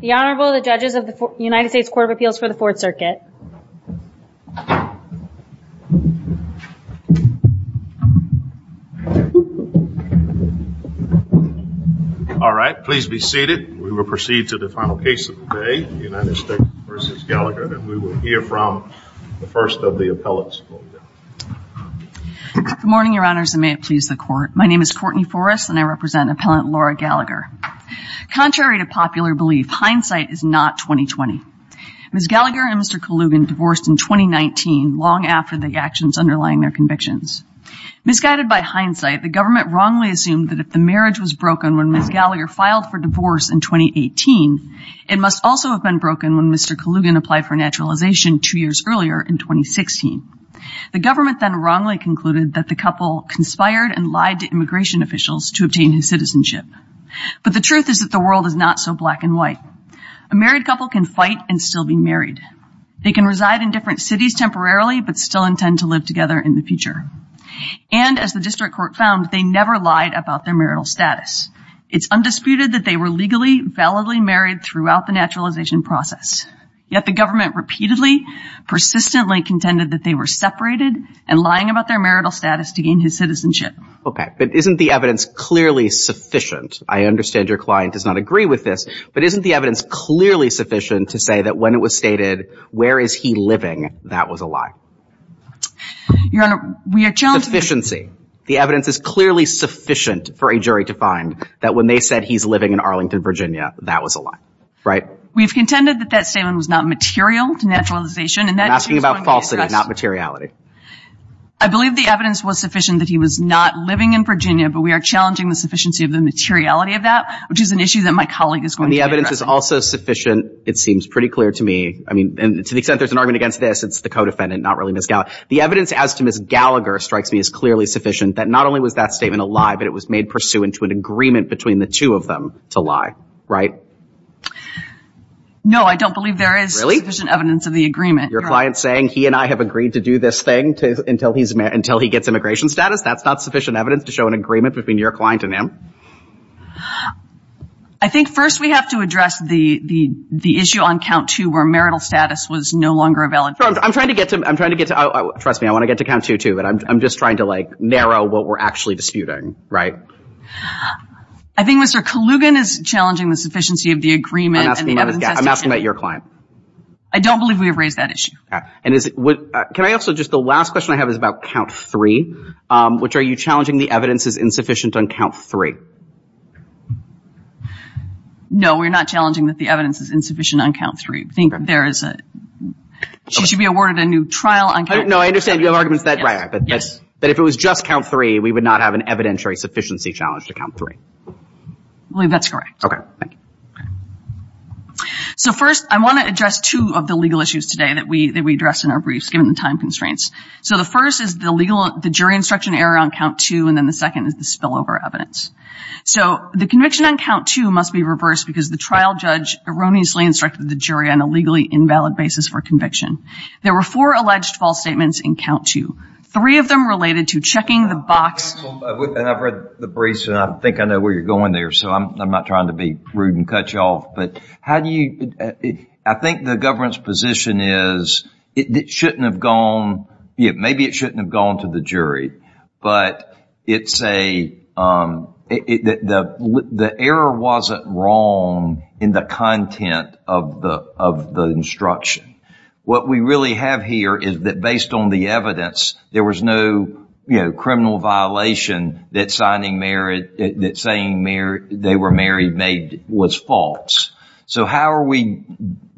The Honorable the judges of the United States Court of Appeals for the Fourth Circuit. All right please be seated we will proceed to the final case of the day United States v. Gallagher and we will hear from the first of the appellants. Good morning your honors and may it please the court my name is Contrary to popular belief hindsight is not 20-20. Ms. Gallagher and Mr. Kalugin divorced in 2019 long after the actions underlying their convictions. Misguided by hindsight the government wrongly assumed that if the marriage was broken when Ms. Gallagher filed for divorce in 2018 it must also have been broken when Mr. Kalugin applied for naturalization two years earlier in 2016. The government then wrongly concluded that the couple conspired and lied to the world is not so black and white. A married couple can fight and still be married. They can reside in different cities temporarily but still intend to live together in the future. And as the district court found they never lied about their marital status. It's undisputed that they were legally validly married throughout the naturalization process. Yet the government repeatedly persistently contended that they were separated and lying about their marital status to gain his citizenship. Okay but isn't the client does not agree with this but isn't the evidence clearly sufficient to say that when it was stated where is he living that was a lie? Your honor we are challenging. Sufficiency. The evidence is clearly sufficient for a jury to find that when they said he's living in Arlington Virginia that was a lie, right? We've contended that that statement was not material to naturalization. I'm asking about falsity not materiality. I believe the evidence was sufficient that he was not living in Virginia but we are challenging the sufficiency of the evidence. Which is an issue that my colleague is going to address. And the evidence is also sufficient it seems pretty clear to me I mean and to the extent there's an argument against this it's the co-defendant not really Ms. Gallagher. The evidence as to Ms. Gallagher strikes me as clearly sufficient that not only was that statement a lie but it was made pursuant to an agreement between the two of them to lie, right? No I don't believe there is sufficient evidence of the agreement. Your client saying he and I have agreed to do this thing until he gets immigration status that's not sufficient evidence to show an agreement between your client and him? I think first we have to address the the issue on count two where marital status was no longer valid. I'm trying to get to I'm trying to get to trust me I want to get to count two too but I'm just trying to like narrow what we're actually disputing, right? I think Mr. Kalugin is challenging the sufficiency of the agreement. I'm asking about your client. I don't believe we have raised that issue. And is it what can I also just the last question I have is about count three which are you challenging the evidence is insufficient on count three? No we're not challenging that the evidence is insufficient on count three. I think there is a she should be awarded a new trial. I don't know I understand your arguments that right but yes but if it was just count three we would not have an evidentiary sufficiency challenge to count three. I believe that's correct. Okay. So first I want to address two of the legal issues today that we address in our briefs given the time constraints. So the first is the legal the jury instruction error on count two and then the second is the spillover evidence. So the conviction on count two must be reversed because the trial judge erroneously instructed the jury on a legally invalid basis for conviction. There were four alleged false statements in count two. Three of them related to checking the box. I've read the briefs and I think I know where you're going there so I'm not trying to be rude and cut you off but how do you I think the government's position is it shouldn't have gone yeah maybe it shouldn't have gone to the jury but it's a the the error wasn't wrong in the content of the of the instruction. What we really have here is that based on the evidence there was no you know criminal violation that signing marriage that saying they were married made was false. So how are we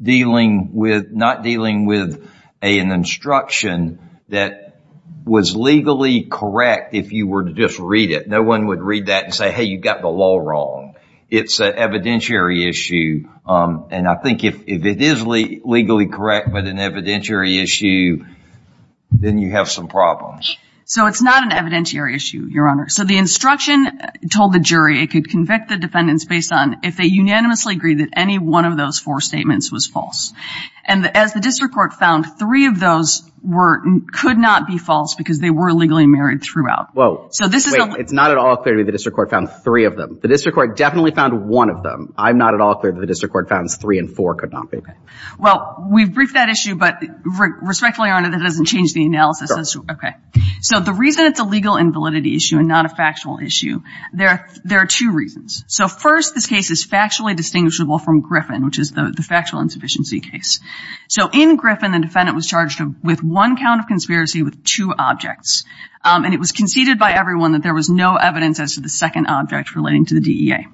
dealing with not dealing with an instruction that was legally correct if you were to just read it. No one would read that and say hey you got the law wrong. It's an evidentiary issue and I think if it is legally correct but an evidentiary issue then you have some problems. So it's not an evidentiary issue your honor. So the instruction told the jury it could convict the defendants based on if they unanimously agreed that any one of those four statements was false and as the district court found three of those were could not be false because they were legally married throughout. Well so this is it's not at all clear to me the district court found three of them. The district court definitely found one of them. I'm not at all clear that the district court found three and four could not be. Well we've briefed that issue but respectfully your honor that doesn't change the analysis. Okay so the reason it's a legal invalidity issue and not a legal invalidity issue is because there are two reasons. So first this case is factually distinguishable from Griffin which is the factual insufficiency case. So in Griffin the defendant was charged with one count of conspiracy with two objects and it was conceded by everyone that there was no evidence as to the second object relating to the DEA.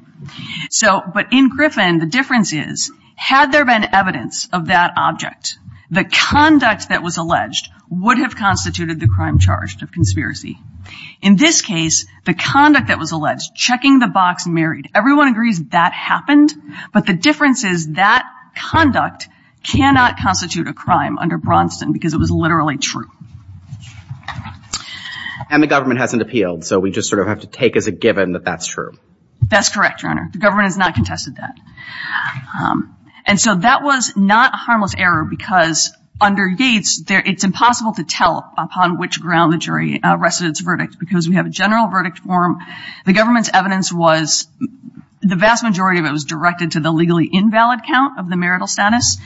So but in Griffin the difference is had there been evidence of that object the conduct that was alleged would have constituted the crime charged of conspiracy. In this case the conduct that was alleged checking the box married. Everyone agrees that happened but the difference is that conduct cannot constitute a crime under Braunston because it was literally true. And the government hasn't appealed so we just sort of have to take as a given that that's true. That's correct your honor the government has not contested that. And so that was not a harmless error because under Yates there it's impossible to tell upon which ground the jury rested its verdict because we have a general verdict form. The government's evidence was the vast majority of it was directed to the legally invalid count of the marital status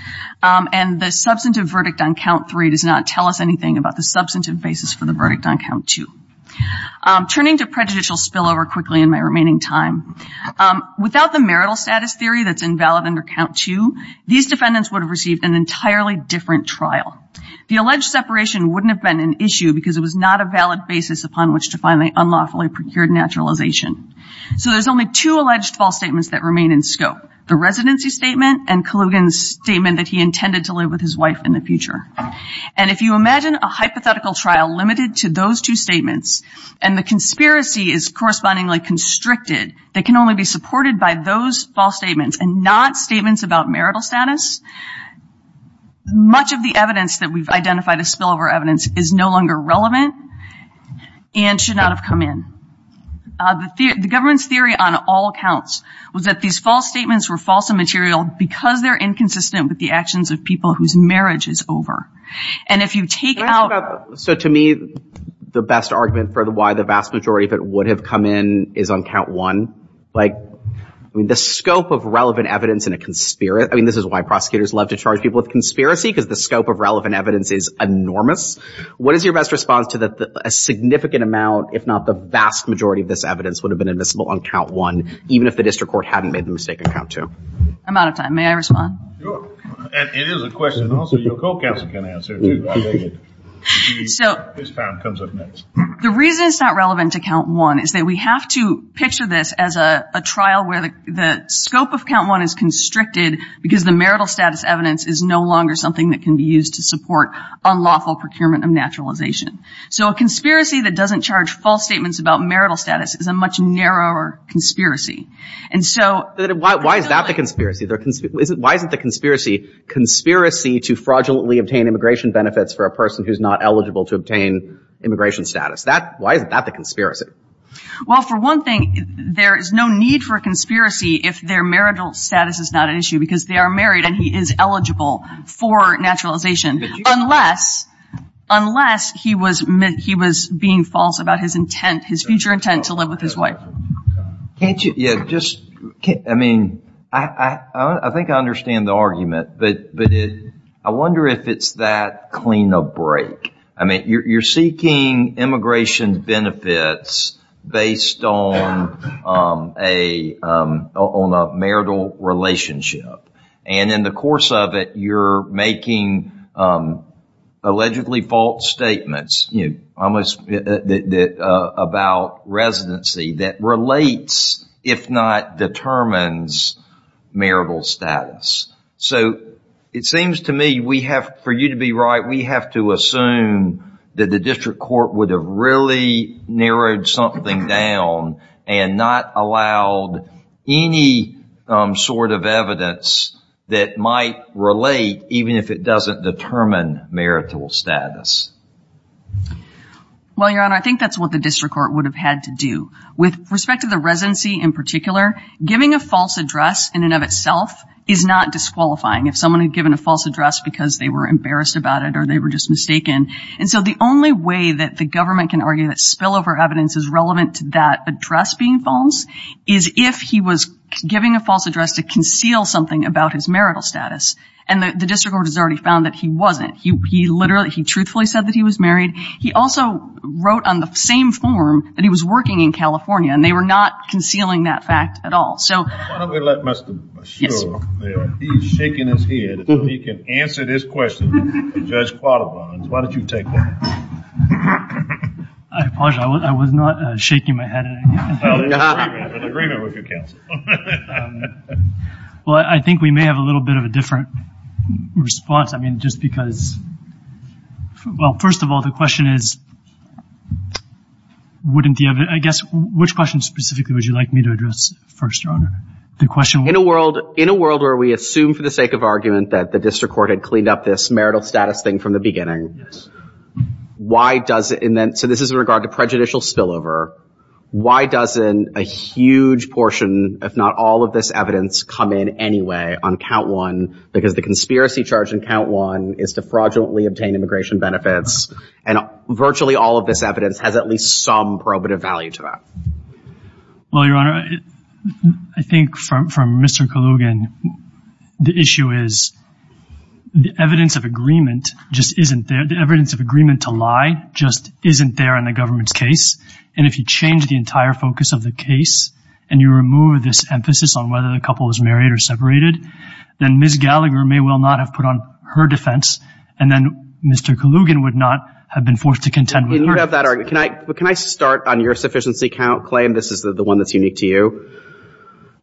and the substantive verdict on count three does not tell us anything about the substantive basis for the verdict on count two. Turning to prejudicial spillover quickly in my remaining time. Without the marital status theory that's invalid under count two these defendants would have received an entirely different trial. The alleged separation wouldn't have been an issue because it was not a valid basis upon which to find the unlawfully procured naturalization. So there's only two alleged false statements that remain in scope. The residency statement and Kalugin's statement that he intended to live with his wife in the future. And if you imagine a hypothetical trial limited to those two statements and the conspiracy is correspondingly constricted they can only be supported by those false statements and not statements about marital status. Much of the evidence that we've identified a longer relevant and should not have come in. The government's theory on all accounts was that these false statements were false and material because they're inconsistent with the actions of people whose marriage is over. And if you take out... So to me the best argument for the why the vast majority of it would have come in is on count one. Like I mean the scope of relevant evidence in a conspiracy. I mean this is why prosecutors love to charge people with I think your best response to that a significant amount if not the vast majority of this evidence would have been invisible on count one even if the district court hadn't made the mistake of count two. I'm out of time. May I respond? It is a question also your co-counsel can answer. The reason it's not relevant to count one is that we have to picture this as a trial where the scope of count one is constricted because the marital status evidence is no longer something that can be used to support unlawful procurement of naturalization. So a conspiracy that doesn't charge false statements about marital status is a much narrower conspiracy. And so... Why is that the conspiracy? Why isn't the conspiracy conspiracy to fraudulently obtain immigration benefits for a person who's not eligible to obtain immigration status? Why is that the conspiracy? Well for one thing there is no need for conspiracy if their marital status is not an issue because they are married and he is eligible for naturalization unless he was being false about his intent, his future intent to live with his wife. I mean I think I understand the argument but I wonder if it's that clean-up break. I mean you're seeking immigration benefits based on a marital relationship and in the course of it you're making allegedly false statements about residency that relates if not determines marital status. So it seems to me we have, for you to be right, we have to assume that the any sort of evidence that might relate even if it doesn't determine marital status. Well your honor I think that's what the district court would have had to do. With respect to the residency in particular, giving a false address in and of itself is not disqualifying. If someone had given a false address because they were embarrassed about it or they were just mistaken. And so the only way that the government can argue that spillover evidence is relevant to address being false is if he was giving a false address to conceal something about his marital status and the district court has already found that he wasn't. He literally, he truthfully said that he was married. He also wrote on the same form that he was working in California and they were not concealing that fact at all. So I think we may have a little bit of a different response. I mean just because, well first of all the question is wouldn't the other, I guess which question specifically would you like me to address first your honor? The question. In a world, in a world where we assume for the sake of argument that the district court had cleaned up this marital status thing from the beginning, why does it, and then so this is in regard to prejudicial spillover, why doesn't a huge portion if not all of this evidence come in anyway on count one because the conspiracy charge in count one is to fraudulently obtain immigration benefits and virtually all of this evidence has at least some little bit of value to that. Well your honor, I think from Mr. Kalugin the issue is the evidence of agreement just isn't there. The evidence of agreement to lie just isn't there in the government's case and if you change the entire focus of the case and you remove this emphasis on whether the couple was married or separated, then Ms. Gallagher may well not have put on her defense and then Mr. Kalugin would not have been forced to contend with her. You have that argument. Can I start on your sufficiency claim? This is the one that's unique to you.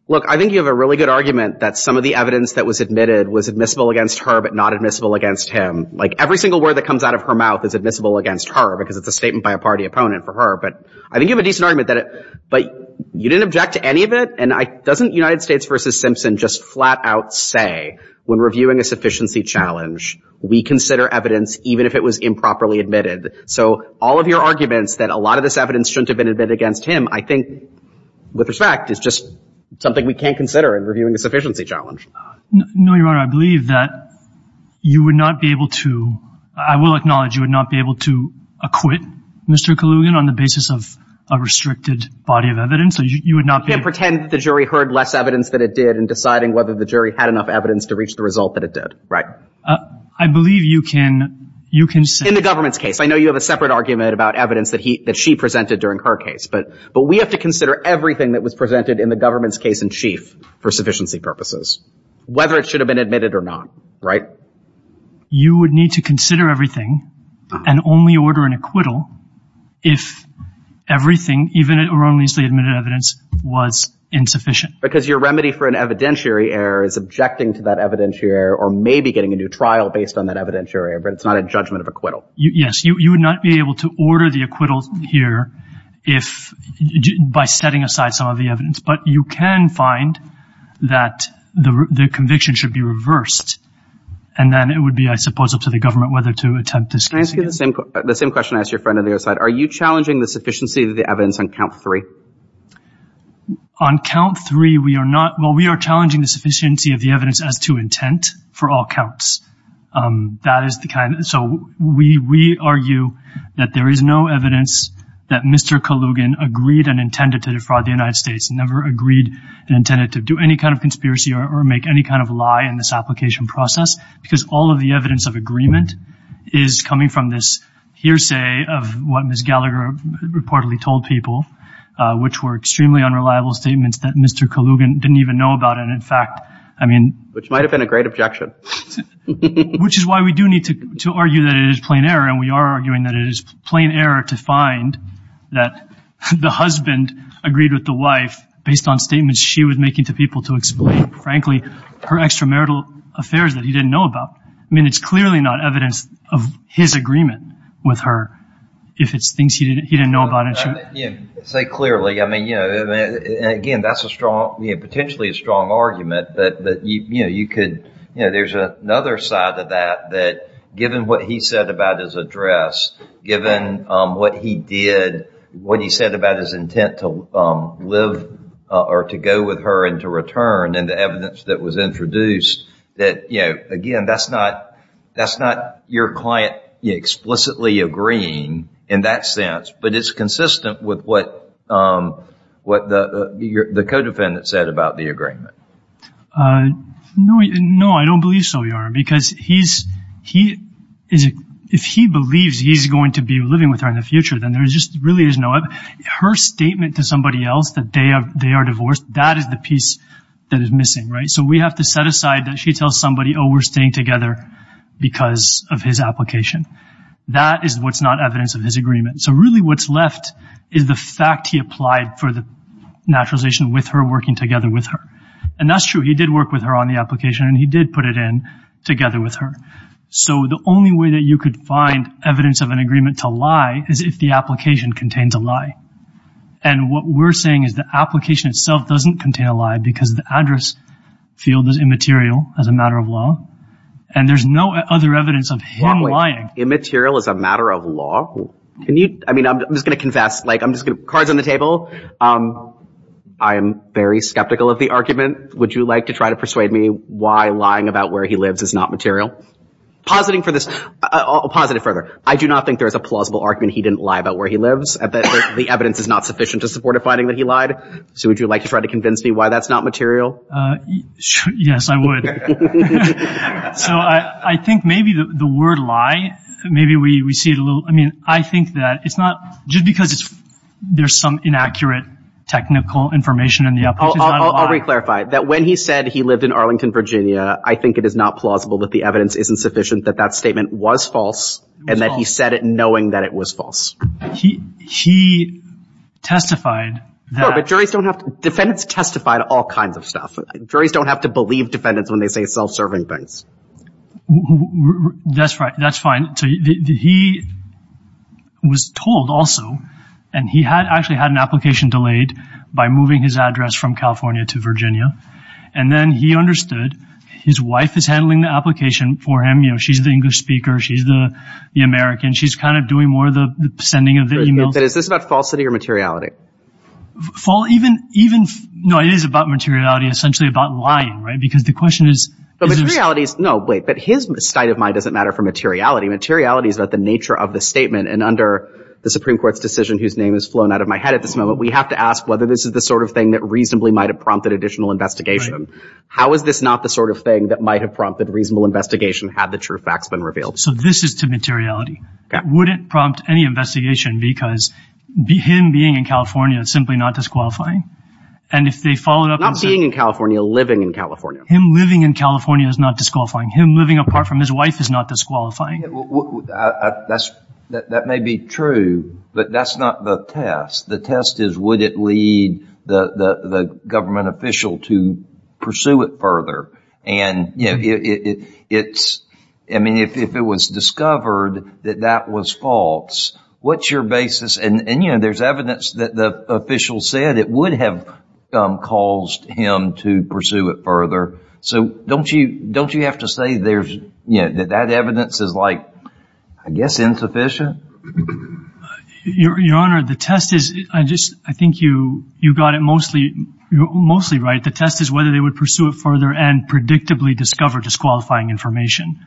Look, I think you have a really good argument that some of the evidence that was admitted was admissible against her but not admissible against him. Like every single word that comes out of her mouth is admissible against her because it's a statement by a party opponent for her, but I think you have a decent argument that it, but you didn't object to any of it and doesn't United States versus Simpson just flat-out say when reviewing a sufficiency challenge we consider evidence even if it was improperly admitted. So all of your arguments that a lot of this evidence shouldn't have been admitted against him I think, with respect, is just something we can't consider in reviewing a sufficiency challenge. No, Your Honor, I believe that you would not be able to, I will acknowledge, you would not be able to acquit Mr. Kalugin on the basis of a restricted body of evidence. You would not be able to. Pretend the jury heard less evidence than it did in deciding whether the jury had enough evidence to reach the result that it did, right? I believe you can, you can say. In the government's case, I know you have a separate argument about evidence that he, that she presented during her case, but, but we have to consider everything that was presented in the government's case in chief for sufficiency purposes. Whether it should have been admitted or not, right? You would need to consider everything and only order an acquittal if everything, even it wrongly admitted evidence, was insufficient. Because your remedy for an evidentiary error is rejecting to that evidentiary error or maybe getting a new trial based on that evidentiary error, but it's not a judgment of acquittal. Yes, you, you would not be able to order the acquittal here if, by setting aside some of the evidence. But you can find that the, the conviction should be reversed. And then it would be, I suppose, up to the government whether to attempt to. Can I ask you the same, the same question I asked your friend on the other side. Are you challenging the sufficiency of the evidence on count three? On count three, we are not, well, we are challenging the sufficiency of the evidence as to intent for all counts. That is the kind, so we, we argue that there is no evidence that Mr. Kalugin agreed and intended to defraud the United States, never agreed and intended to do any kind of conspiracy or make any kind of lie in this application process, because all of the evidence of agreement is coming from this hearsay of what Ms. Gallagher reportedly told people, which were things that Mr. Kalugin didn't even know about. And in fact, I mean, which might have been a great objection, which is why we do need to, to argue that it is plain error. And we are arguing that it is plain error to find that the husband agreed with the wife based on statements she was making to people to explain, frankly, her extramarital affairs that he didn't know about. I mean, it's clearly not evidence of his agreement with her. If it's things he didn't, he didn't know about. Say clearly. I mean, you know, again, that's potentially a strong argument that, you know, you could, you know, there's another side of that, that given what he said about his address, given what he did, what he said about his intent to live or to go with her and to return and the evidence that was introduced, that, you know, again, that's not, that's not your client explicitly agreeing in that sense, but it's consistent with what, what the, the co-defendant said about the agreement. No, no, I don't believe so, Your Honor, because he's, he is, if he believes he's going to be living with her in the future, then there's just really is no evidence. Her statement to somebody else that they are, they are divorced, that is the piece that is missing, right? So we have to set aside that she tells somebody, oh, we're staying together because of his application. That is what's not evidence of his agreement. So really what's left is the fact he applied for the naturalization with her, working together with her. And that's true. He did work with her on the application and he did put it in together with her. So the only way that you could find evidence of an agreement to lie is if the application contains a lie. And what we're saying is the application itself doesn't contain a lie because the address field is immaterial as a matter of law. And there's no other evidence of him lying. Immaterial as a matter of law? Can you, I mean, I'm just going to confess, like I'm just going to, cards on the table. I'm very skeptical of the argument. Would you like to try to persuade me why lying about where he lives is not material? Positing for this, I'll posit it further. I do not think there is a plausible argument he didn't lie about where he lives, that the evidence is not sufficient to support a finding that he lied. So would you like to try to convince me why that's not material? Yes, I would. So I think maybe the word lie, maybe we see it a little, I mean, I think that it's not just because there's some inaccurate technical information in the application. I'll reclarify that when he said he lived in Arlington, Virginia, I think it is not plausible that the evidence isn't sufficient, that that statement was false, and that he said it knowing that it was false. He testified that... Juries don't have to believe defendants when they say self-serving things. That's right. That's fine. He was told also, and he had actually had an application delayed by moving his address from California to Virginia. And then he understood his wife is handling the application for him. You know, she's the English speaker. She's the American. She's kind of doing more of the sending of the email. Is this about falsity or materiality? False, even, even, no, it is about materiality, essentially about lying, right? Because the question is... But materiality is, no, wait, but his state of mind doesn't matter for materiality. Materiality is about the nature of the statement. And under the Supreme Court's decision, whose name has flown out of my head at this moment, we have to ask whether this is the sort of thing that reasonably might have prompted additional investigation. How is this not the sort of thing that might have prompted reasonable investigation had the true facts been revealed? So this is to materiality. Would it prompt any investigation? Because him being in California is simply not disqualifying. And if they followed up... Not being in California, living in California. Him living in California is not disqualifying. Him living apart from his wife is not disqualifying. That's, that may be true, but that's not the test. The test is, would it lead the government official to pursue it further? And it's, I mean, if it was discovered that that was false, what's your basis? And, you know, there's evidence that the official said it would have caused him to pursue it further. So don't you, don't you have to say there's, you know, that that evidence is like, I guess, insufficient? Your Honor, the test is, I just, I think you, you got it mostly, mostly right. The test is whether they would pursue it further and predictably discover disqualifying information.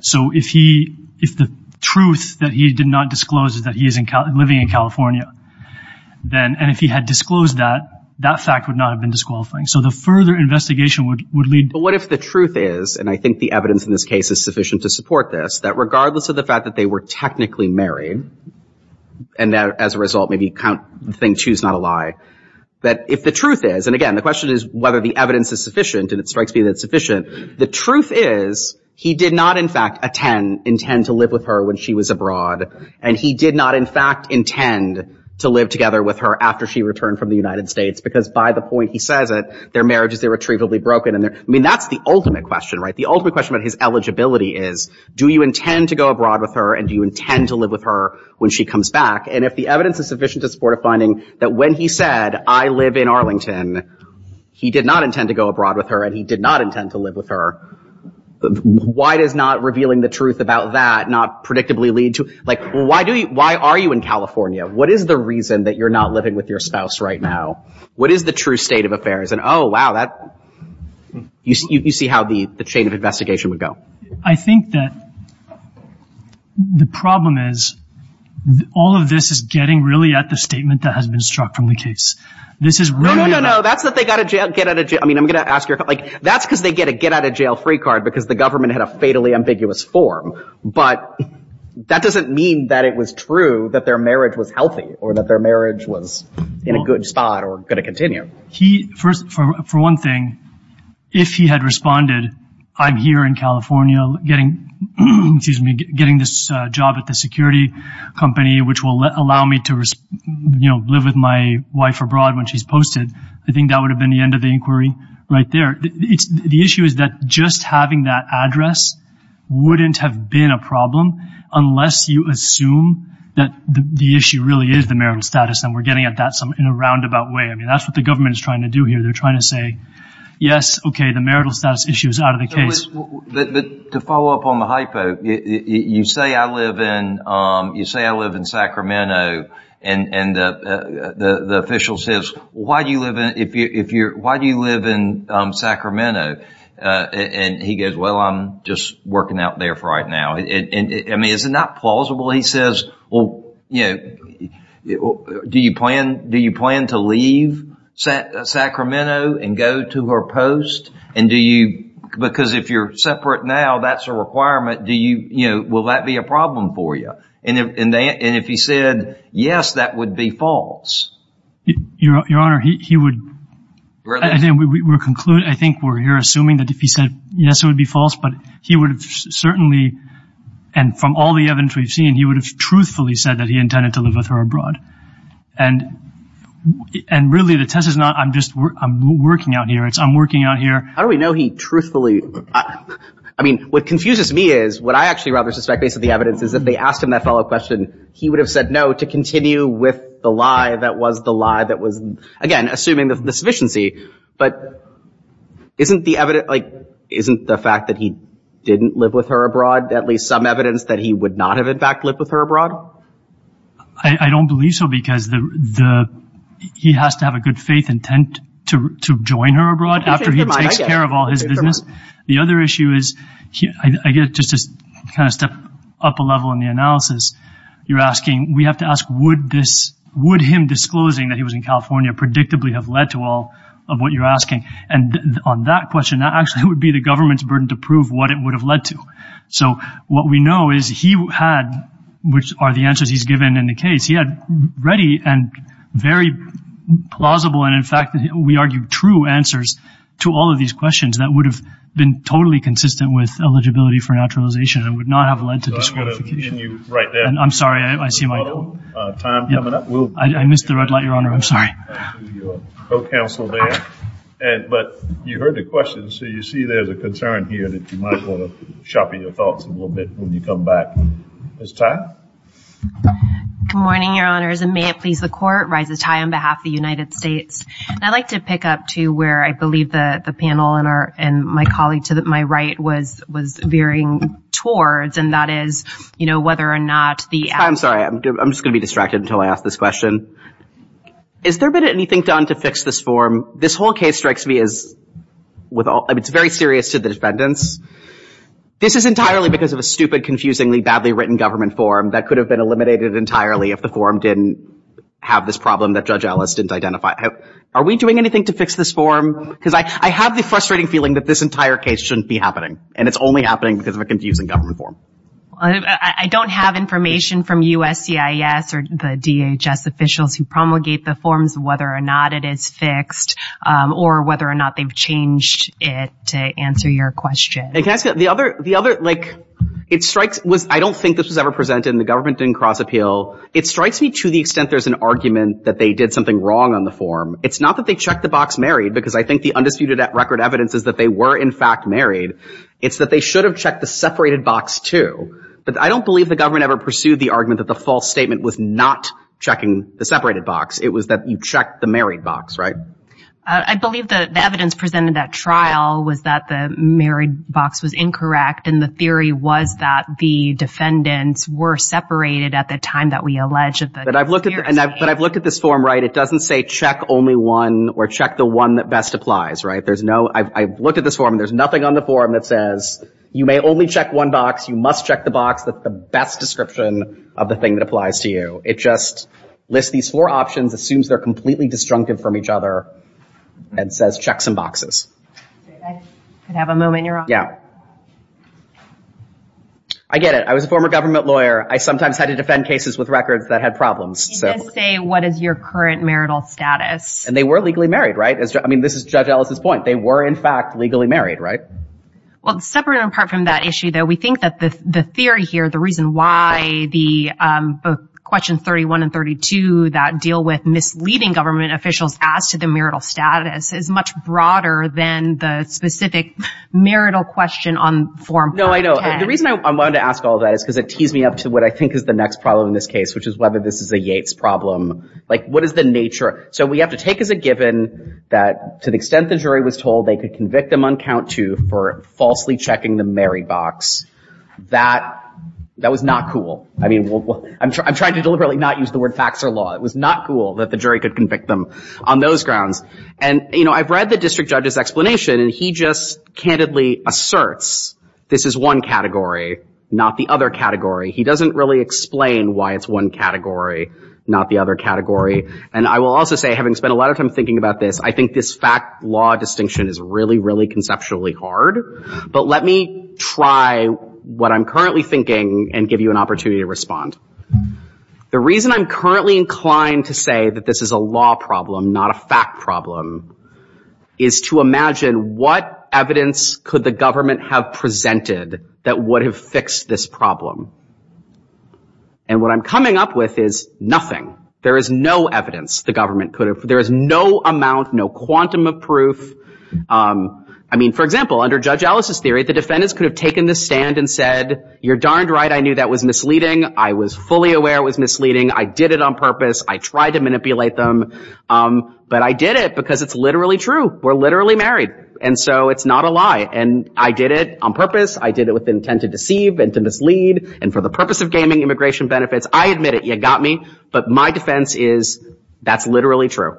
So if he, if the truth that he did not disclose is that he is living in California, then, and if he had disclosed that, that fact would not have been disqualifying. So the further investigation would, would lead... But what if the truth is, and I think the evidence in this case is sufficient to support this, that regardless of the fact that they were technically married and that as a result, maybe count the thing, choose not a lie, that if the truth is, and again, the question is whether the evidence is sufficient and it strikes me that it's sufficient. The truth is he did not, in fact, attend, intend to live with her when she was abroad. And he did not, in fact, intend to live together with her after she returned from the United States, because by the point he says it, their marriage is irretrievably broken. And I mean, that's the ultimate question, right? The ultimate question about his eligibility is, do you intend to go abroad with her? And do you intend to live with her when she comes back? And if the evidence is sufficient to support a finding that when he said, I live in Arlington, he did not intend to go abroad with her and he did not intend to live with her, why does not revealing the truth about that not predictably lead to, like, why are you in California? What is the reason that you're not living with your spouse right now? What is the true state of affairs? And oh, wow, that, you see how the chain of investigation would go. I think that the problem is, all of this is getting really at the statement that has been struck from the case. This is really... No, no, no, no. That's that they got to get out of jail. I mean, I'm going to ask you, like, that's because they get a get out of jail free card because the government had a fatally ambiguous form. But that doesn't mean that it was true that their marriage was healthy or that their marriage was in a good spot or going to continue. He first, for one thing, if he had responded, I'm here in California getting, excuse me, getting this job at the security company, which will allow me to, you know, live with my wife abroad when she's posted. I think that would have been the end of the inquiry right there. The issue is that just having that address wouldn't have been a problem unless you assume that the issue really is the marital status. And we're getting at that in a roundabout way. I mean, that's what the government is trying to do here. They're trying to say, yes, OK, the marital status issue is out of the case. To follow up on the hypo, you say I live in Sacramento and the official says, why do you live in Sacramento? And he goes, well, I'm just working out there for right now. I mean, is it not plausible? He says, well, you know, do you plan to leave Sacramento and go to her post? And do you, because if you're separate now, that's a requirement. Do you, you know, will that be a problem for you? And if he said yes, that would be false. Your Honor, he would, I think we're concluding, I think we're here assuming that if he said yes, it would be false, but he would have certainly, and from all the evidence we've seen, he would have truthfully said that he intended to live with her abroad. And, and really the test is not I'm just, I'm working out here. It's I'm working out here. How do we know he truthfully, I mean, what confuses me is what I actually rather suspect based on the evidence is if they asked him that follow up question, he would have said no to continue with the lie that was the lie that was, again, assuming the sufficiency, but isn't the evidence, like, isn't the fact that he didn't live with her abroad, at least some evidence that he would not have in fact lived with her abroad? I don't believe so, because the, he has to have a good faith intent to join her abroad after he takes care of all his business. The other issue is, I guess just to kind of step up a level in the analysis, you're asking, we have to ask, would this, would him disclosing that he was in California predictably have led to all of what you're asking? And on that question, that actually would be the government's burden to prove what it would have led to. So what we know is he had, which are the answers he's given in the case, he had ready and very plausible. And in fact, we argue true answers to all of these questions that would have been totally consistent with eligibility for naturalization and would not have led to disqualification. I'm sorry. I see my time coming up. I missed the red light, Your Honor. I'm sorry. But you heard the question. So you see, there's a concern here that you might want to sharpen your thoughts a little bit when you come back. Ms. Tai? Good morning, Your Honors. And may it please the court, Rises Tai on behalf of the United States. I'd like to pick up to where I believe that the panel and my colleague to my right was veering towards, and that is, you know, whether or not the- I'm sorry. I'm just going to be distracted until I ask this question. Is there been anything done to fix this form? This whole case strikes me as, it's very serious to the defendants. This is entirely because of a stupid, confusingly, badly written government form that could have been eliminated entirely if the form didn't have this problem that Judge Ellis didn't identify. Are we doing anything to fix this form? Because I have the frustrating feeling that this entire case shouldn't be happening, and it's only happening because of a confusing government form. I don't have information from USCIS or the DHS officials who promulgate the forms, whether or not it is fixed, or whether or not they've changed it to answer your question. And can I ask you, the other, like, it strikes- I don't think this was ever presented and the government didn't cross appeal. It strikes me to the extent there's an argument that they did something wrong on the form. It's not that they checked the box married, because I think the undisputed record evidence is that they were, in fact, married. It's that they should have checked the separated box, too. But I don't believe the government ever pursued the argument that the false statement was not checking the separated box. It was that you checked the married box, right? I believe the evidence presented at trial was that the married box was incorrect. And the theory was that the defendants were separated at the time that we alleged that- But I've looked at, but I've looked at this form, right? It doesn't say check only one or check the one that best applies, right? There's no- I've looked at this form, and there's nothing on the form that says, you may only check one box, you must check the box that's the best description of the thing that applies to you. It just lists these four options, assumes they're completely disjunctive from each other, and says, check some boxes. I could have a moment. You're on. Yeah. I get it. I was a former government lawyer. I sometimes had to defend cases with records that had problems. It does say, what is your current marital status? And they were legally married, right? As I mean, this is Judge Ellis's point. They were in fact legally married, right? Well, separate and apart from that issue, though, we think that the theory here, the reason why the questions 31 and 32 that deal with misleading government officials as to the marital status is much broader than the specific marital question on form 510. No, I know. The reason I wanted to ask all that is because it tees me up to what I think is the next problem in this case, which is whether this is a Yates problem. Like, what is the nature? So we have to take as a given that to the extent the jury was told they could convict them on count two for falsely checking the Mary box, that was not cool. I mean, I'm trying to deliberately not use the word facts or law. It was not cool that the jury could convict them on those grounds. And, you know, I've read the district judge's explanation and he just candidly asserts this is one category, not the other category. He doesn't really explain why it's one category, not the other category. And I will also say, having spent a lot of time thinking about this, I think this fact law distinction is really, really conceptually hard, but let me try what I'm currently thinking and give you an opportunity to respond. The reason I'm currently inclined to say that this is a law problem, not a fact problem, is to imagine what evidence could the government have presented that would have fixed this problem. And what I'm coming up with is nothing. There is no evidence the government could have, there is no amount, no quantum of proof, I mean, for example, under Judge Ellis's theory, the defendants could have taken the stand and said, you're darned right. I knew that was misleading. I was fully aware it was misleading. I did it on purpose. I tried to manipulate them, but I did it because it's literally true. We're literally married. And so it's not a lie. And I did it on purpose. I did it with the intent to deceive and to mislead. And for the purpose of gaming immigration benefits, I admit it, you got me. But my defense is that's literally true.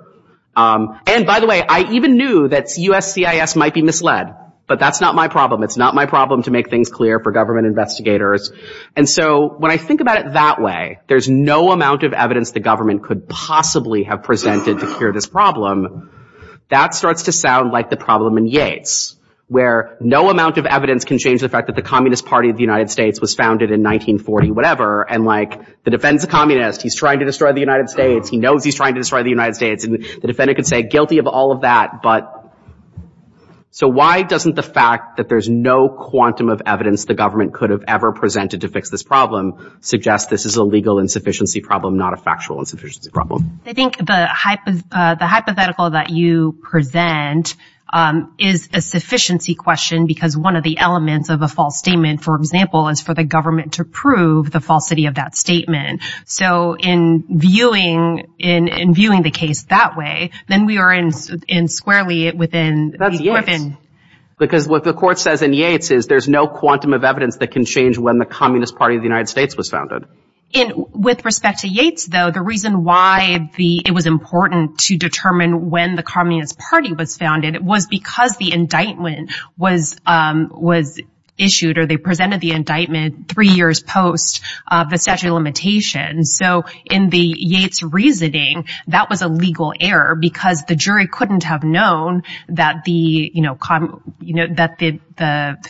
And by the way, I even knew that USCIS might be misled, but that's not my problem. It's not my problem to make things clear for government investigators. And so when I think about it that way, there's no amount of evidence the government could possibly have presented to cure this problem. That starts to sound like the problem in Yates, where no amount of evidence can change the fact that the Communist Party of the United States was founded in 1940, whatever. And like, the defense is a communist. He's trying to destroy the United States. He knows he's trying to destroy the United States. And the defendant could say guilty of all of that. But so why doesn't the fact that there's no quantum of evidence the government could have ever presented to fix this problem suggest this is a legal insufficiency problem, not a factual insufficiency problem? I think the hypothetical that you present is a sufficiency question, because one of the elements of a false statement, for example, is for the government to prove the falsity of that statement. So in viewing the case that way, then we are in squarely within the equivalent. Because what the court says in Yates is there's no quantum of evidence that can change when the Communist Party of the United States was founded. And with respect to Yates, though, the reason why it was important to determine when the Communist Party was founded was because the indictment was issued or they presented the indictment three years post of the statute of limitations. So in the Yates reasoning, that was a legal error because the jury couldn't have known that the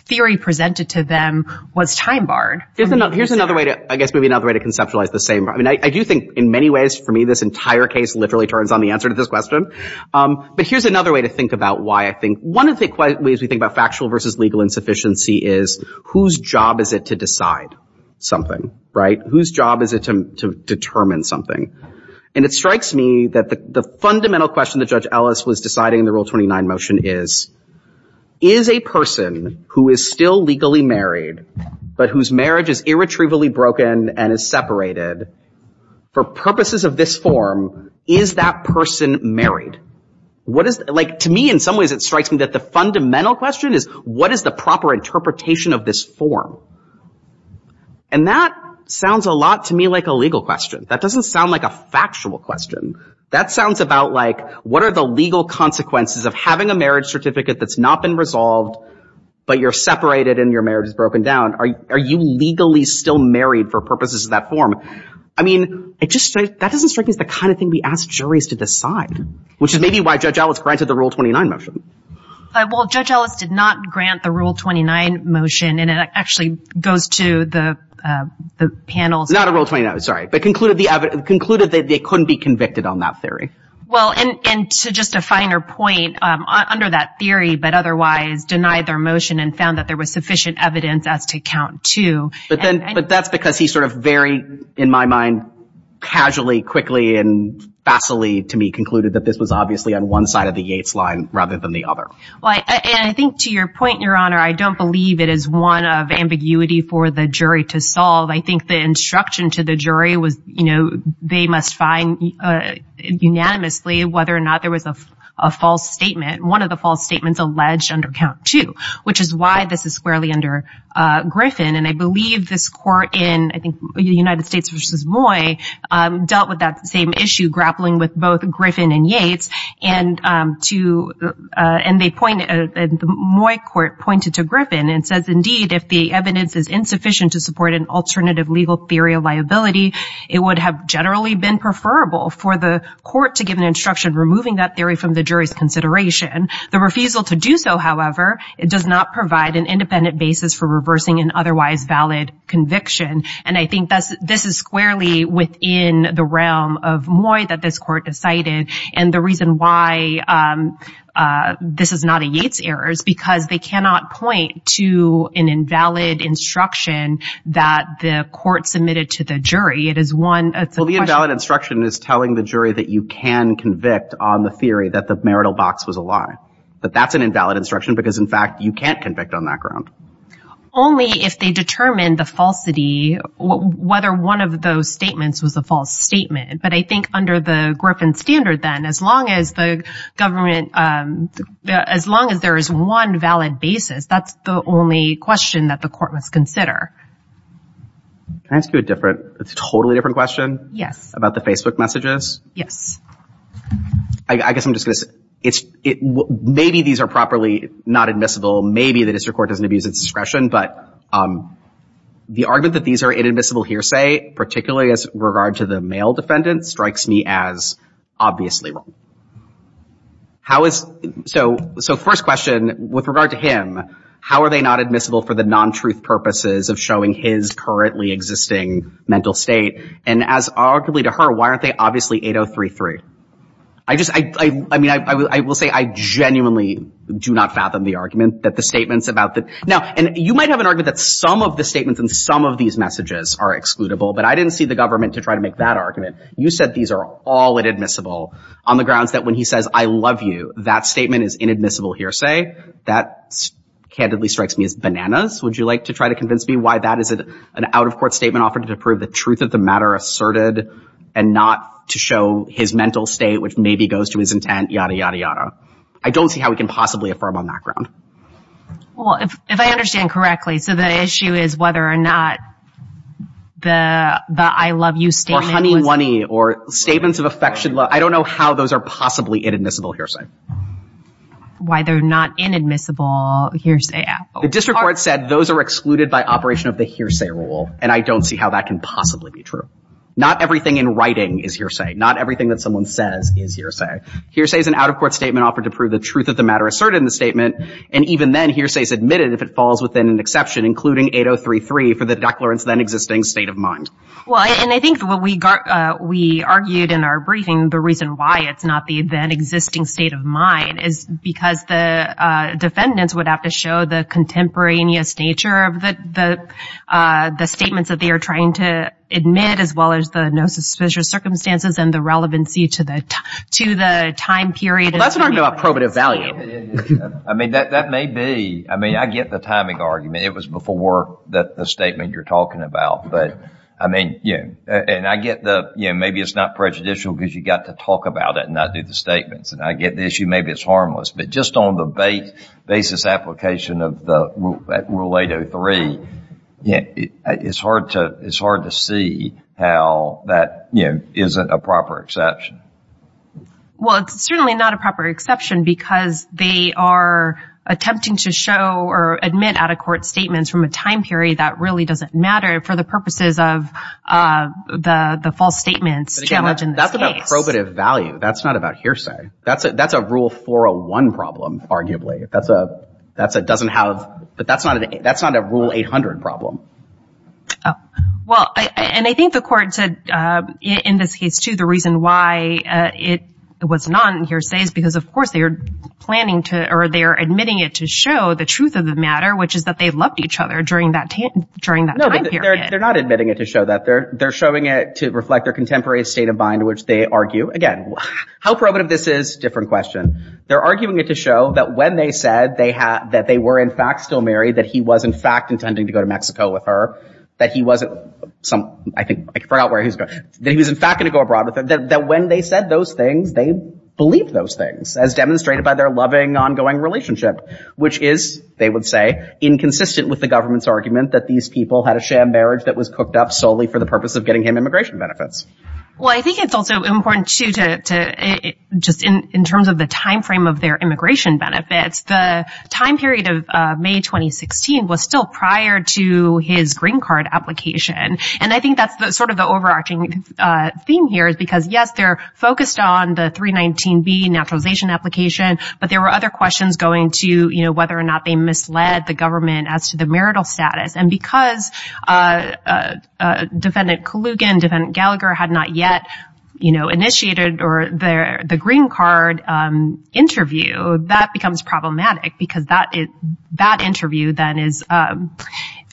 theory presented to them was time barred. Here's another way to, I guess, maybe another way to conceptualize the same. I mean, I do think in many ways for me, this entire case literally turns on the answer to this question. But here's another way to think about why I think one of the ways we think about factual versus legal insufficiency is whose job is it to decide something, right? Whose job is it to determine something? And it strikes me that the fundamental question that Judge Ellis was deciding in the Rule 29 motion is, is a person who is still legally married, but whose marriage is irretrievably broken and is separated for purposes of this form, is that person married? What is, like, to me, in some ways, it strikes me that the fundamental question is, what is the proper interpretation of this form? And that sounds a lot to me like a legal question. That doesn't sound like a factual question. That sounds about like, what are the legal consequences of having a marriage certificate that's not been resolved, but you're separated and your marriage is broken down? Are you legally still married for purposes of that form? I mean, it just, that doesn't strike me as the kind of thing we ask juries to do, which is maybe why Judge Ellis granted the Rule 29 motion. Well, Judge Ellis did not grant the Rule 29 motion, and it actually goes to the panel's... Not a Rule 29, sorry, but concluded that they couldn't be convicted on that theory. Well, and to just a finer point, under that theory, but otherwise denied their motion and found that there was sufficient evidence as to count to... But then, but that's because he sort of very, in my mind, casually, quickly, and vassally, to me, concluded that this was obviously on one side of the Yates line rather than the other. Well, and I think to your point, Your Honor, I don't believe it is one of ambiguity for the jury to solve. I think the instruction to the jury was, you know, they must find unanimously whether or not there was a false statement. One of the false statements alleged under count two, which is why this is squarely under Griffin. And I believe this court in, I think, United States v. Moy, dealt with that same issue, grappling with both Griffin and Yates. And to, and they point, the Moy court pointed to Griffin and says, indeed, if the evidence is insufficient to support an alternative legal theory of liability, it would have generally been preferable for the court to give an instruction removing that theory from the jury's consideration. The refusal to do so, however, does not provide an independent basis for reversing an otherwise valid conviction. And I think this is squarely within the realm of Moy that this court decided. And the reason why this is not a Yates error is because they cannot point to an invalid instruction that the court submitted to the jury. It is one, it's a question. Well, the invalid instruction is telling the jury that you can convict on the theory that the marital box was a lie. But that's an invalid instruction because, in fact, you can't convict on that ground. Only if they determine the falsity, whether one of those statements was a false statement. But I think under the Griffin standard then, as long as the government, as long as there is one valid basis, that's the only question that the court must consider. Can I ask you a different, a totally different question? Yes. About the Facebook messages? Yes. I guess I'm just going to say, maybe these are properly not admissible. Maybe the district court doesn't abuse its discretion, but the argument that these are inadmissible hearsay, particularly as regard to the male defendant, strikes me as obviously wrong. How is, so first question, with regard to him, how are they not admissible for the non-truth purposes of showing his currently existing mental state? And as arguably to her, why aren't they obviously 8033? I just, I mean, I will say I genuinely do not fathom the argument that the statements about the, now, and you might have an argument that some of the statements in some of these messages are excludable, but I didn't see the government to try to make that argument. You said these are all inadmissible on the grounds that when he says, I love you, that statement is inadmissible hearsay, that candidly strikes me as bananas. Would you like to try to convince me why that is an out of court statement offered to prove the truth of the matter asserted and not to show his mental state, which maybe goes to his intent, yada, yada, yada. I don't see how we can possibly affirm on that ground. Well, if, if I understand correctly, so the issue is whether or not the, the, I love you statement, or statements of affection, I don't know how those are possibly inadmissible hearsay. Why they're not inadmissible hearsay. The district court said those are excluded by operation of the hearsay rule. And I don't see how that can possibly be true. Not everything in writing is hearsay. Not everything that someone says is hearsay. Hearsay is an out of court statement offered to prove the truth of the matter asserted in the statement. And even then hearsay is admitted if it falls within an exception, including 8033 for the declarants then existing state of mind. Well, and I think what we got, we argued in our briefing, the reason why it's not the then existing state of mind is because the defendants would have to show the statements that they are trying to admit as well as the no suspicious circumstances and the relevancy to the, to the time period. Well, that's what I'm talking about, probative value. I mean, that, that may be, I mean, I get the timing argument. It was before the statement you're talking about, but I mean, yeah. And I get the, you know, maybe it's not prejudicial because you got to talk about it and not do the statements. And I get the issue, maybe it's harmless, but just on the base, basis application of the rule 803, yeah, it's hard to, it's hard to see how that, you know, isn't a proper exception. Well, it's certainly not a proper exception because they are attempting to show or admit out of court statements from a time period that really doesn't matter for the purposes of the, the false statements challenged in this case. But again, that's about probative value. That's not about hearsay. That's a, that's a rule 401 problem, arguably. That's a, that's a doesn't have, but that's not, that's not a rule 800 problem. Oh, well, I, and I think the court said in this case too, the reason why it was not hearsay is because of course they are planning to, or they're admitting it to show the truth of the matter, which is that they loved each other during that, during that time period. They're not admitting it to show that they're, they're showing it to reflect their contemporary state of mind, which they argue. Again, how probative this is, different question. They're arguing it to show that when they said they had, that they were in fact still married, that he was in fact intending to go to Mexico with her, that he wasn't some, I think I forgot where he was going, that he was in fact going to go abroad with her, that when they said those things, they believed those things as demonstrated by their loving ongoing relationship, which is, they would say, inconsistent with the government's argument that these people had a sham marriage that was cooked up solely for the purpose of getting him immigration benefits. Well, I think it's also important to, to, to just in, in terms of the timeframe of their immigration benefits, the time period of May 2016 was still prior to his green card application. And I think that's the sort of the overarching theme here is because yes, they're focused on the 319B naturalization application, but there were other questions going to, you know, whether or not they misled the government as to the marital status. And because, uh, uh, uh, defendant Kalugin, defendant Gallagher had not yet, you know, initiated or the, the green card, um, interview, that becomes problematic because that is, that interview then is, um,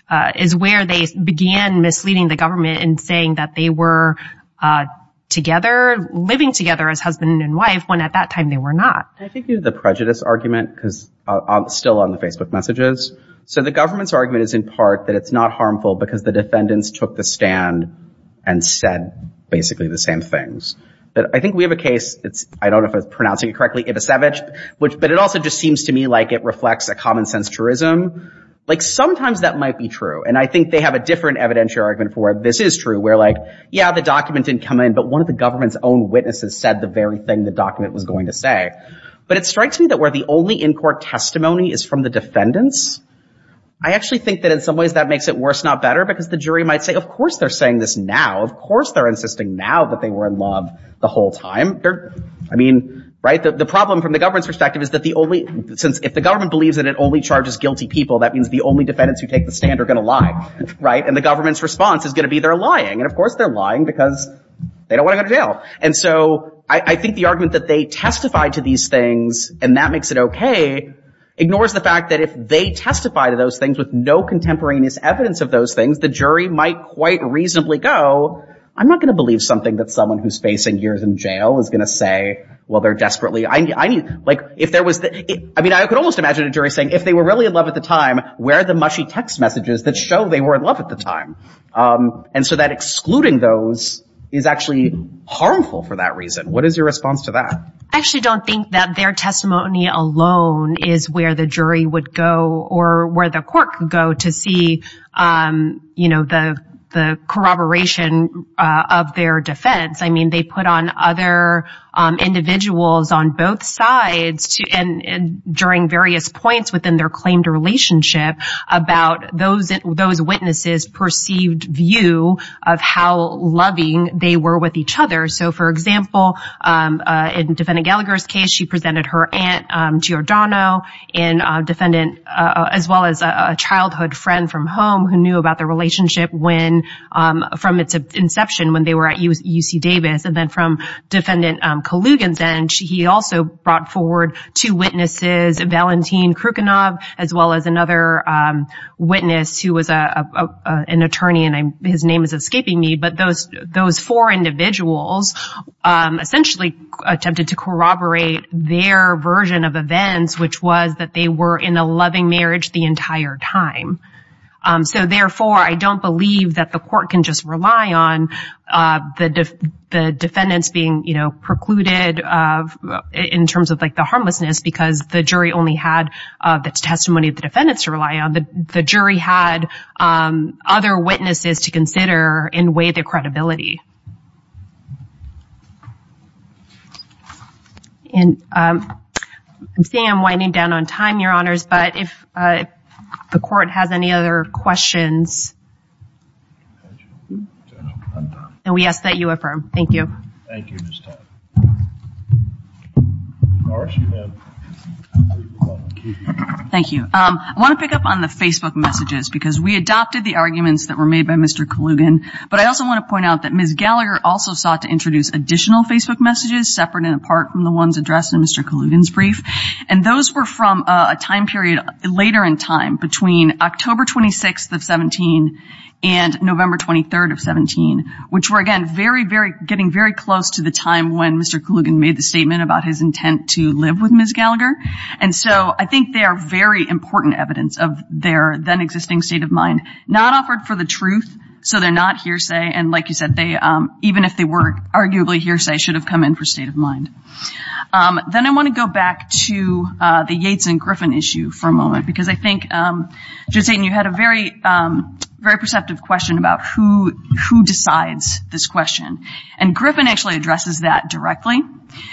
uh, is where they began misleading the government and saying that they were, uh, together, living together as husband and wife when at that time they were not. I think the prejudice argument, cause I'm still on the Facebook messages. So the government's argument is in part that it's not harmful because the defendants took the stand and said basically the same things that I think we have a case. It's, I don't know if I was pronouncing it correctly, but it also just seems to me like it reflects a common sense tourism, like sometimes that might be true. And I think they have a different evidentiary argument for where this is true. We're like, yeah, the document didn't come in, but one of the government's own witnesses said the very thing the document was going to say. But it strikes me that where the only in-court testimony is from the defendants, I actually think that in some ways that makes it worse, not better because the jury might say, of course they're saying this now. Of course they're insisting now that they were in love the whole time. I mean, right. The problem from the government's perspective is that the only, since if the government believes that it only charges guilty people, that means the only defendants who take the stand are going to lie, right? And the government's response is going to be they're lying. And of course they're lying because they don't want to go to jail. And so I think the argument that they testify to these things and that makes it OK ignores the fact that if they testify to those things with no contemporaneous evidence of those things, the jury might quite reasonably go, I'm not going to believe something that someone who's facing years in jail is going to say, well, they're desperately, I mean, like if there was, I mean, I could almost imagine a jury saying if they were really in love at the time, where are the mushy text messages that show they were in love at the time? And so that excluding those is actually harmful for that reason. What is your response to that? I actually don't think that their testimony alone is where the jury would go or where the court can go to see, you know, the the corroboration of their defense. I mean, they put on other individuals on both sides and during various points within their claimed relationship about those those witnesses perceived view of how loving they were with each other. So, for example, in Defendant Gallagher's case, she presented her aunt to Giordano and defendant as well as a childhood friend from home who knew about their relationship when from its inception, when they were at UC Davis. And then from Defendant Kalugin's end, he also brought forward two witnesses, Valentin Krukanov, as well as another witness who was an attorney and his name is escaping me, but those those four individuals essentially attempted to corroborate their version of events, which was that they were in a loving marriage the entire time. So, therefore, I don't believe that the court can just rely on the defendants being, you know, precluded in terms of like the harmlessness because the jury only had the testimony of the defendants to rely on. The jury had other witnesses to consider and weigh their credibility. And I'm saying I'm winding down on time, your honors, but if the court has any other questions. And we ask that you affirm. Thank you. Thank you. I want to pick up on the Facebook messages because we adopted the arguments that were made by Mr. Kalugin, but I also want to point out that Ms. Gallagher also sought to introduce additional Facebook messages separate and apart from the ones addressed in Mr. Kalugin's brief, and those were from a time period later in time between October 26th of 17 and November 23rd of 17, which were, again, very, very, getting Kalugin was supposed to be in court. When Mr. Kalugin made the statement about his intent to live with Ms. Gallagher. And so I think they are very important evidence of their then existing state of mind, not offered for the truth. So they're not hearsay. And like you said, they, even if they were arguably hearsay should have come in for state of mind. Then I want to go back to the Yates and Griffin issue for a moment, because I think you had a very, very perceptive question about who, who decides this and who decides that directly.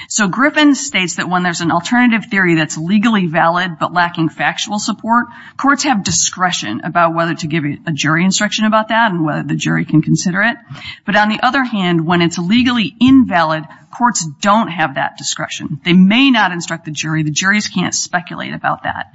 So Griffin states that when there's an alternative theory that's legally valid, but lacking factual support, courts have discretion about whether to give a jury instruction about that and whether the jury can consider it. But on the other hand, when it's legally invalid, courts don't have that discretion. They may not instruct the jury. The juries can't speculate about that.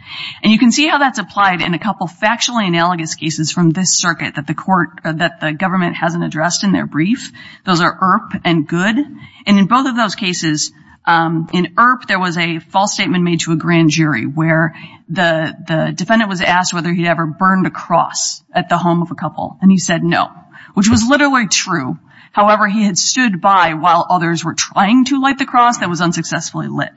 And you can see how that's applied in a couple factually analogous cases from this circuit that the court, that the government hasn't addressed in their brief. Those are ERP and good. And in both of those cases in ERP, there was a false statement made to a grand jury where the defendant was asked whether he'd ever burned a cross at the home of a couple. And he said, no, which was literally true. However, he had stood by while others were trying to light the cross that was unsuccessfully lit.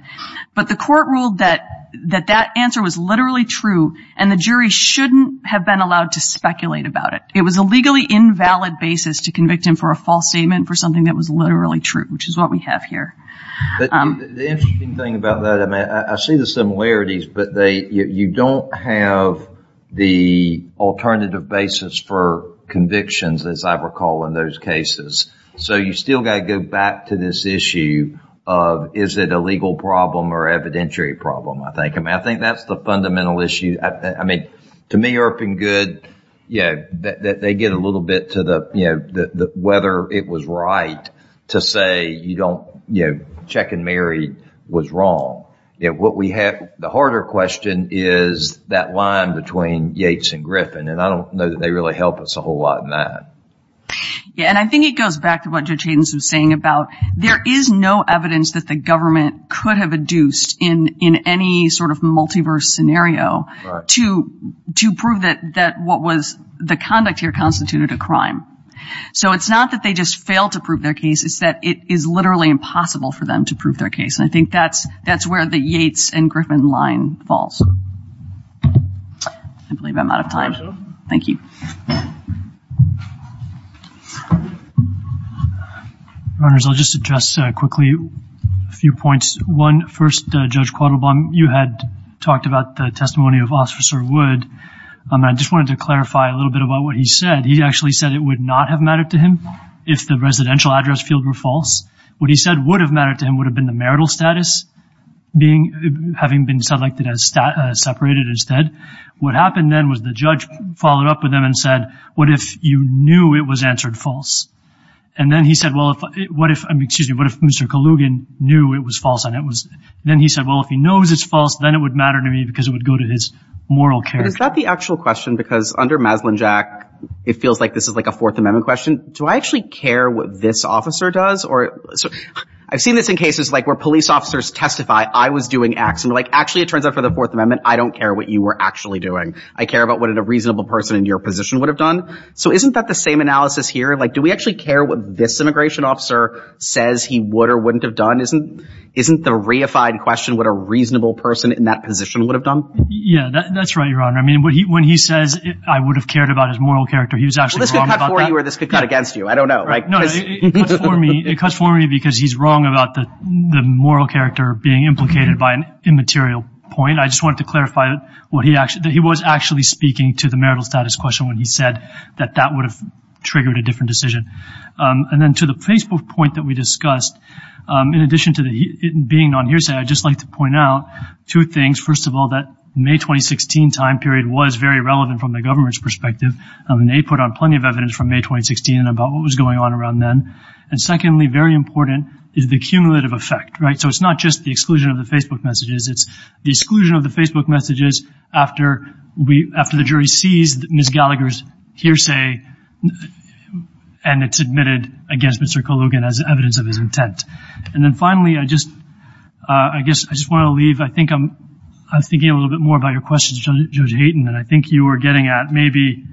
But the court ruled that, that that answer was literally true and the jury shouldn't have been allowed to speculate about it. It was a legally invalid basis to convict him for a false statement for something that was literally true, which is what we have here. The interesting thing about that, I mean, I see the similarities, but they, you don't have the alternative basis for convictions, as I recall, in those cases. So you still got to go back to this issue of, is it a legal problem or evidentiary problem? I think, I mean, I think that's the fundamental issue. I mean, to me, ERP and good, you know, they get a little bit to the, you know, whether it was right to say, you don't, you know, check and marry was wrong. Yeah. What we have, the harder question is that line between Yates and Griffin. And I don't know that they really help us a whole lot in that. Yeah. And I think it goes back to what Judge Hayden was saying about, there is no evidence that the government could have adduced in, in any sort of multiverse scenario to, to prove that, that what was the conduct here constituted a crime. So it's not that they just fail to prove their case. It's that it is literally impossible for them to prove their case. And I think that's, that's where the Yates and Griffin line falls. I believe I'm out of time. Thank you. Runners, I'll just address quickly a few points. One, first, Judge Quattlebaum, you had talked about the testimony of Officer Wood. And I just wanted to clarify a little bit about what he said. He actually said it would not have mattered to him if the residential address field were false. What he said would have mattered to him would have been the marital status being, having been selected as stat, separated instead. What happened then was the judge followed up with him and said, what if you knew it was answered false? And then he said, well, if, what if, I mean, excuse me, what if Mr. Kalugin knew it was false and it was, then he said, well, if he knows it's false, then it would matter to me because it would go to his moral character. Is that the actual question? Because under Maslin-Jack, it feels like this is like a fourth amendment question. Do I actually care what this officer does? Or I've seen this in cases like where police officers testify, I was doing X and like, actually it turns out for the fourth amendment, I don't care what you were actually doing. I care about what a reasonable person in your position would have done. So isn't that the same analysis here? Like, do we actually care what this immigration officer says he would or wouldn't have done? Isn't, isn't the reified question what a reasonable person in that position would have done? Yeah, that's right. I mean, when he says I would have cared about his moral character, he was actually wrong about that. Well, this could cut for you or this could cut against you. I don't know, right? No, it cuts for me, it cuts for me because he's wrong about the moral character being implicated by an immaterial point. I just wanted to clarify what he actually, that he was actually speaking to the marital status question when he said that that would have triggered a different decision. And then to the Facebook point that we discussed, in addition to being on hearsay, I'd just like to point out two things. First of all, that May 2016 time period was very relevant from the government's perspective. I mean, they put on plenty of evidence from May 2016 about what was going on around then. And secondly, very important is the cumulative effect, right? So it's not just the exclusion of the Facebook messages. It's the exclusion of the Facebook messages after we, after the jury sees Ms. Gallagher's hearsay and it's admitted against Mr. Colugan as evidence of his intent. And then finally, I just, I guess I just want to leave, I think I was thinking a little bit more about your questions, Judge Hayden, than I think you were getting at. Maybe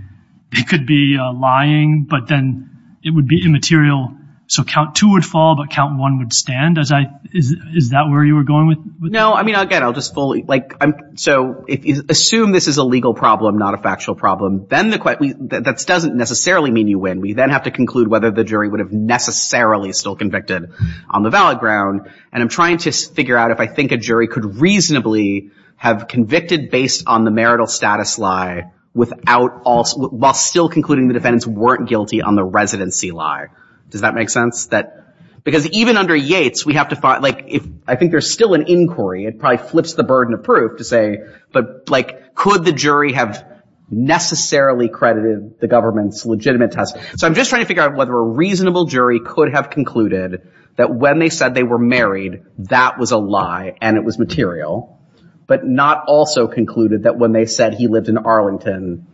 it could be a lying, but then it would be immaterial. So count two would fall, but count one would stand. As I, is that where you were going with? No, I mean, again, I'll just fully like, so if you assume this is a legal problem, not a factual problem, then the question that doesn't necessarily mean you win. We then have to conclude whether the jury would have necessarily still convicted on the valid ground. And I'm trying to figure out if I think a jury could reasonably have convicted based on the marital status lie without also, while still concluding the defendants weren't guilty on the residency lie. Does that make sense? That because even under Yates, we have to find like, if I think there's still an inquiry, it probably flips the burden of proof to say, but like, could the jury have necessarily credited the government's legitimate test? So I'm just trying to figure out whether a reasonable jury could have concluded that when they said they were married, that was a lie and it was material, but not also concluded that when they said he lived in Arlington.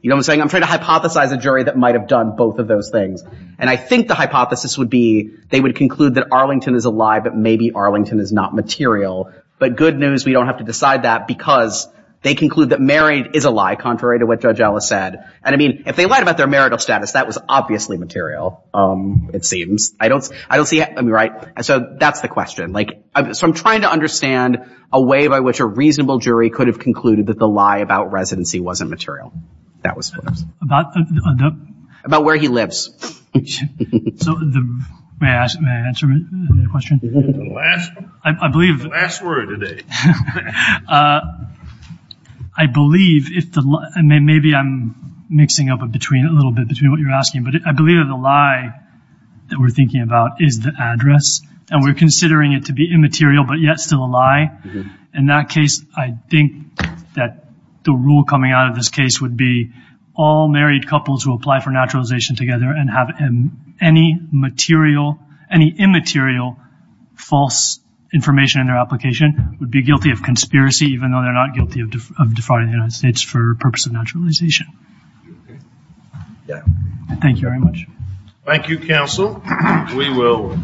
You know what I'm saying? I'm trying to hypothesize a jury that might've done both of those things. And I think the hypothesis would be, they would conclude that Arlington is a lie, but maybe Arlington is not material, but good news, we don't have to decide that because they conclude that married is a lie contrary to what judge Ellis said. And I mean, if they lied about their marital status, that was obviously material, it seems. I don't, I don't see it. I mean, right. So that's the question. Like, so I'm trying to understand a way by which a reasonable jury could have concluded that the lie about residency wasn't material. That was about, about where he lives. So the, may I ask, may I answer your question? I believe the last word today. I believe if the, maybe I'm mixing up a between a little bit between what you're asking, but I believe that the lie that we're thinking about is the address and we're considering it to be immaterial, but yet still a lie. In that case, I think that the rule coming out of this case would be all married couples who apply for naturalization together and have any material, any immaterial false information in their application would be guilty of conspiracy, even though they're not guilty of defrauding the United States for purpose of naturalization. Thank you very much. Thank you, counsel. We will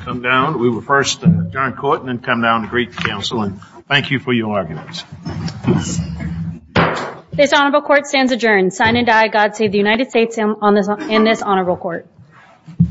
come down. We will first adjourn court and then come down to greet counsel. And thank you for your arguments. This honorable court stands adjourned. Sign and die. God save the United States in this honorable court.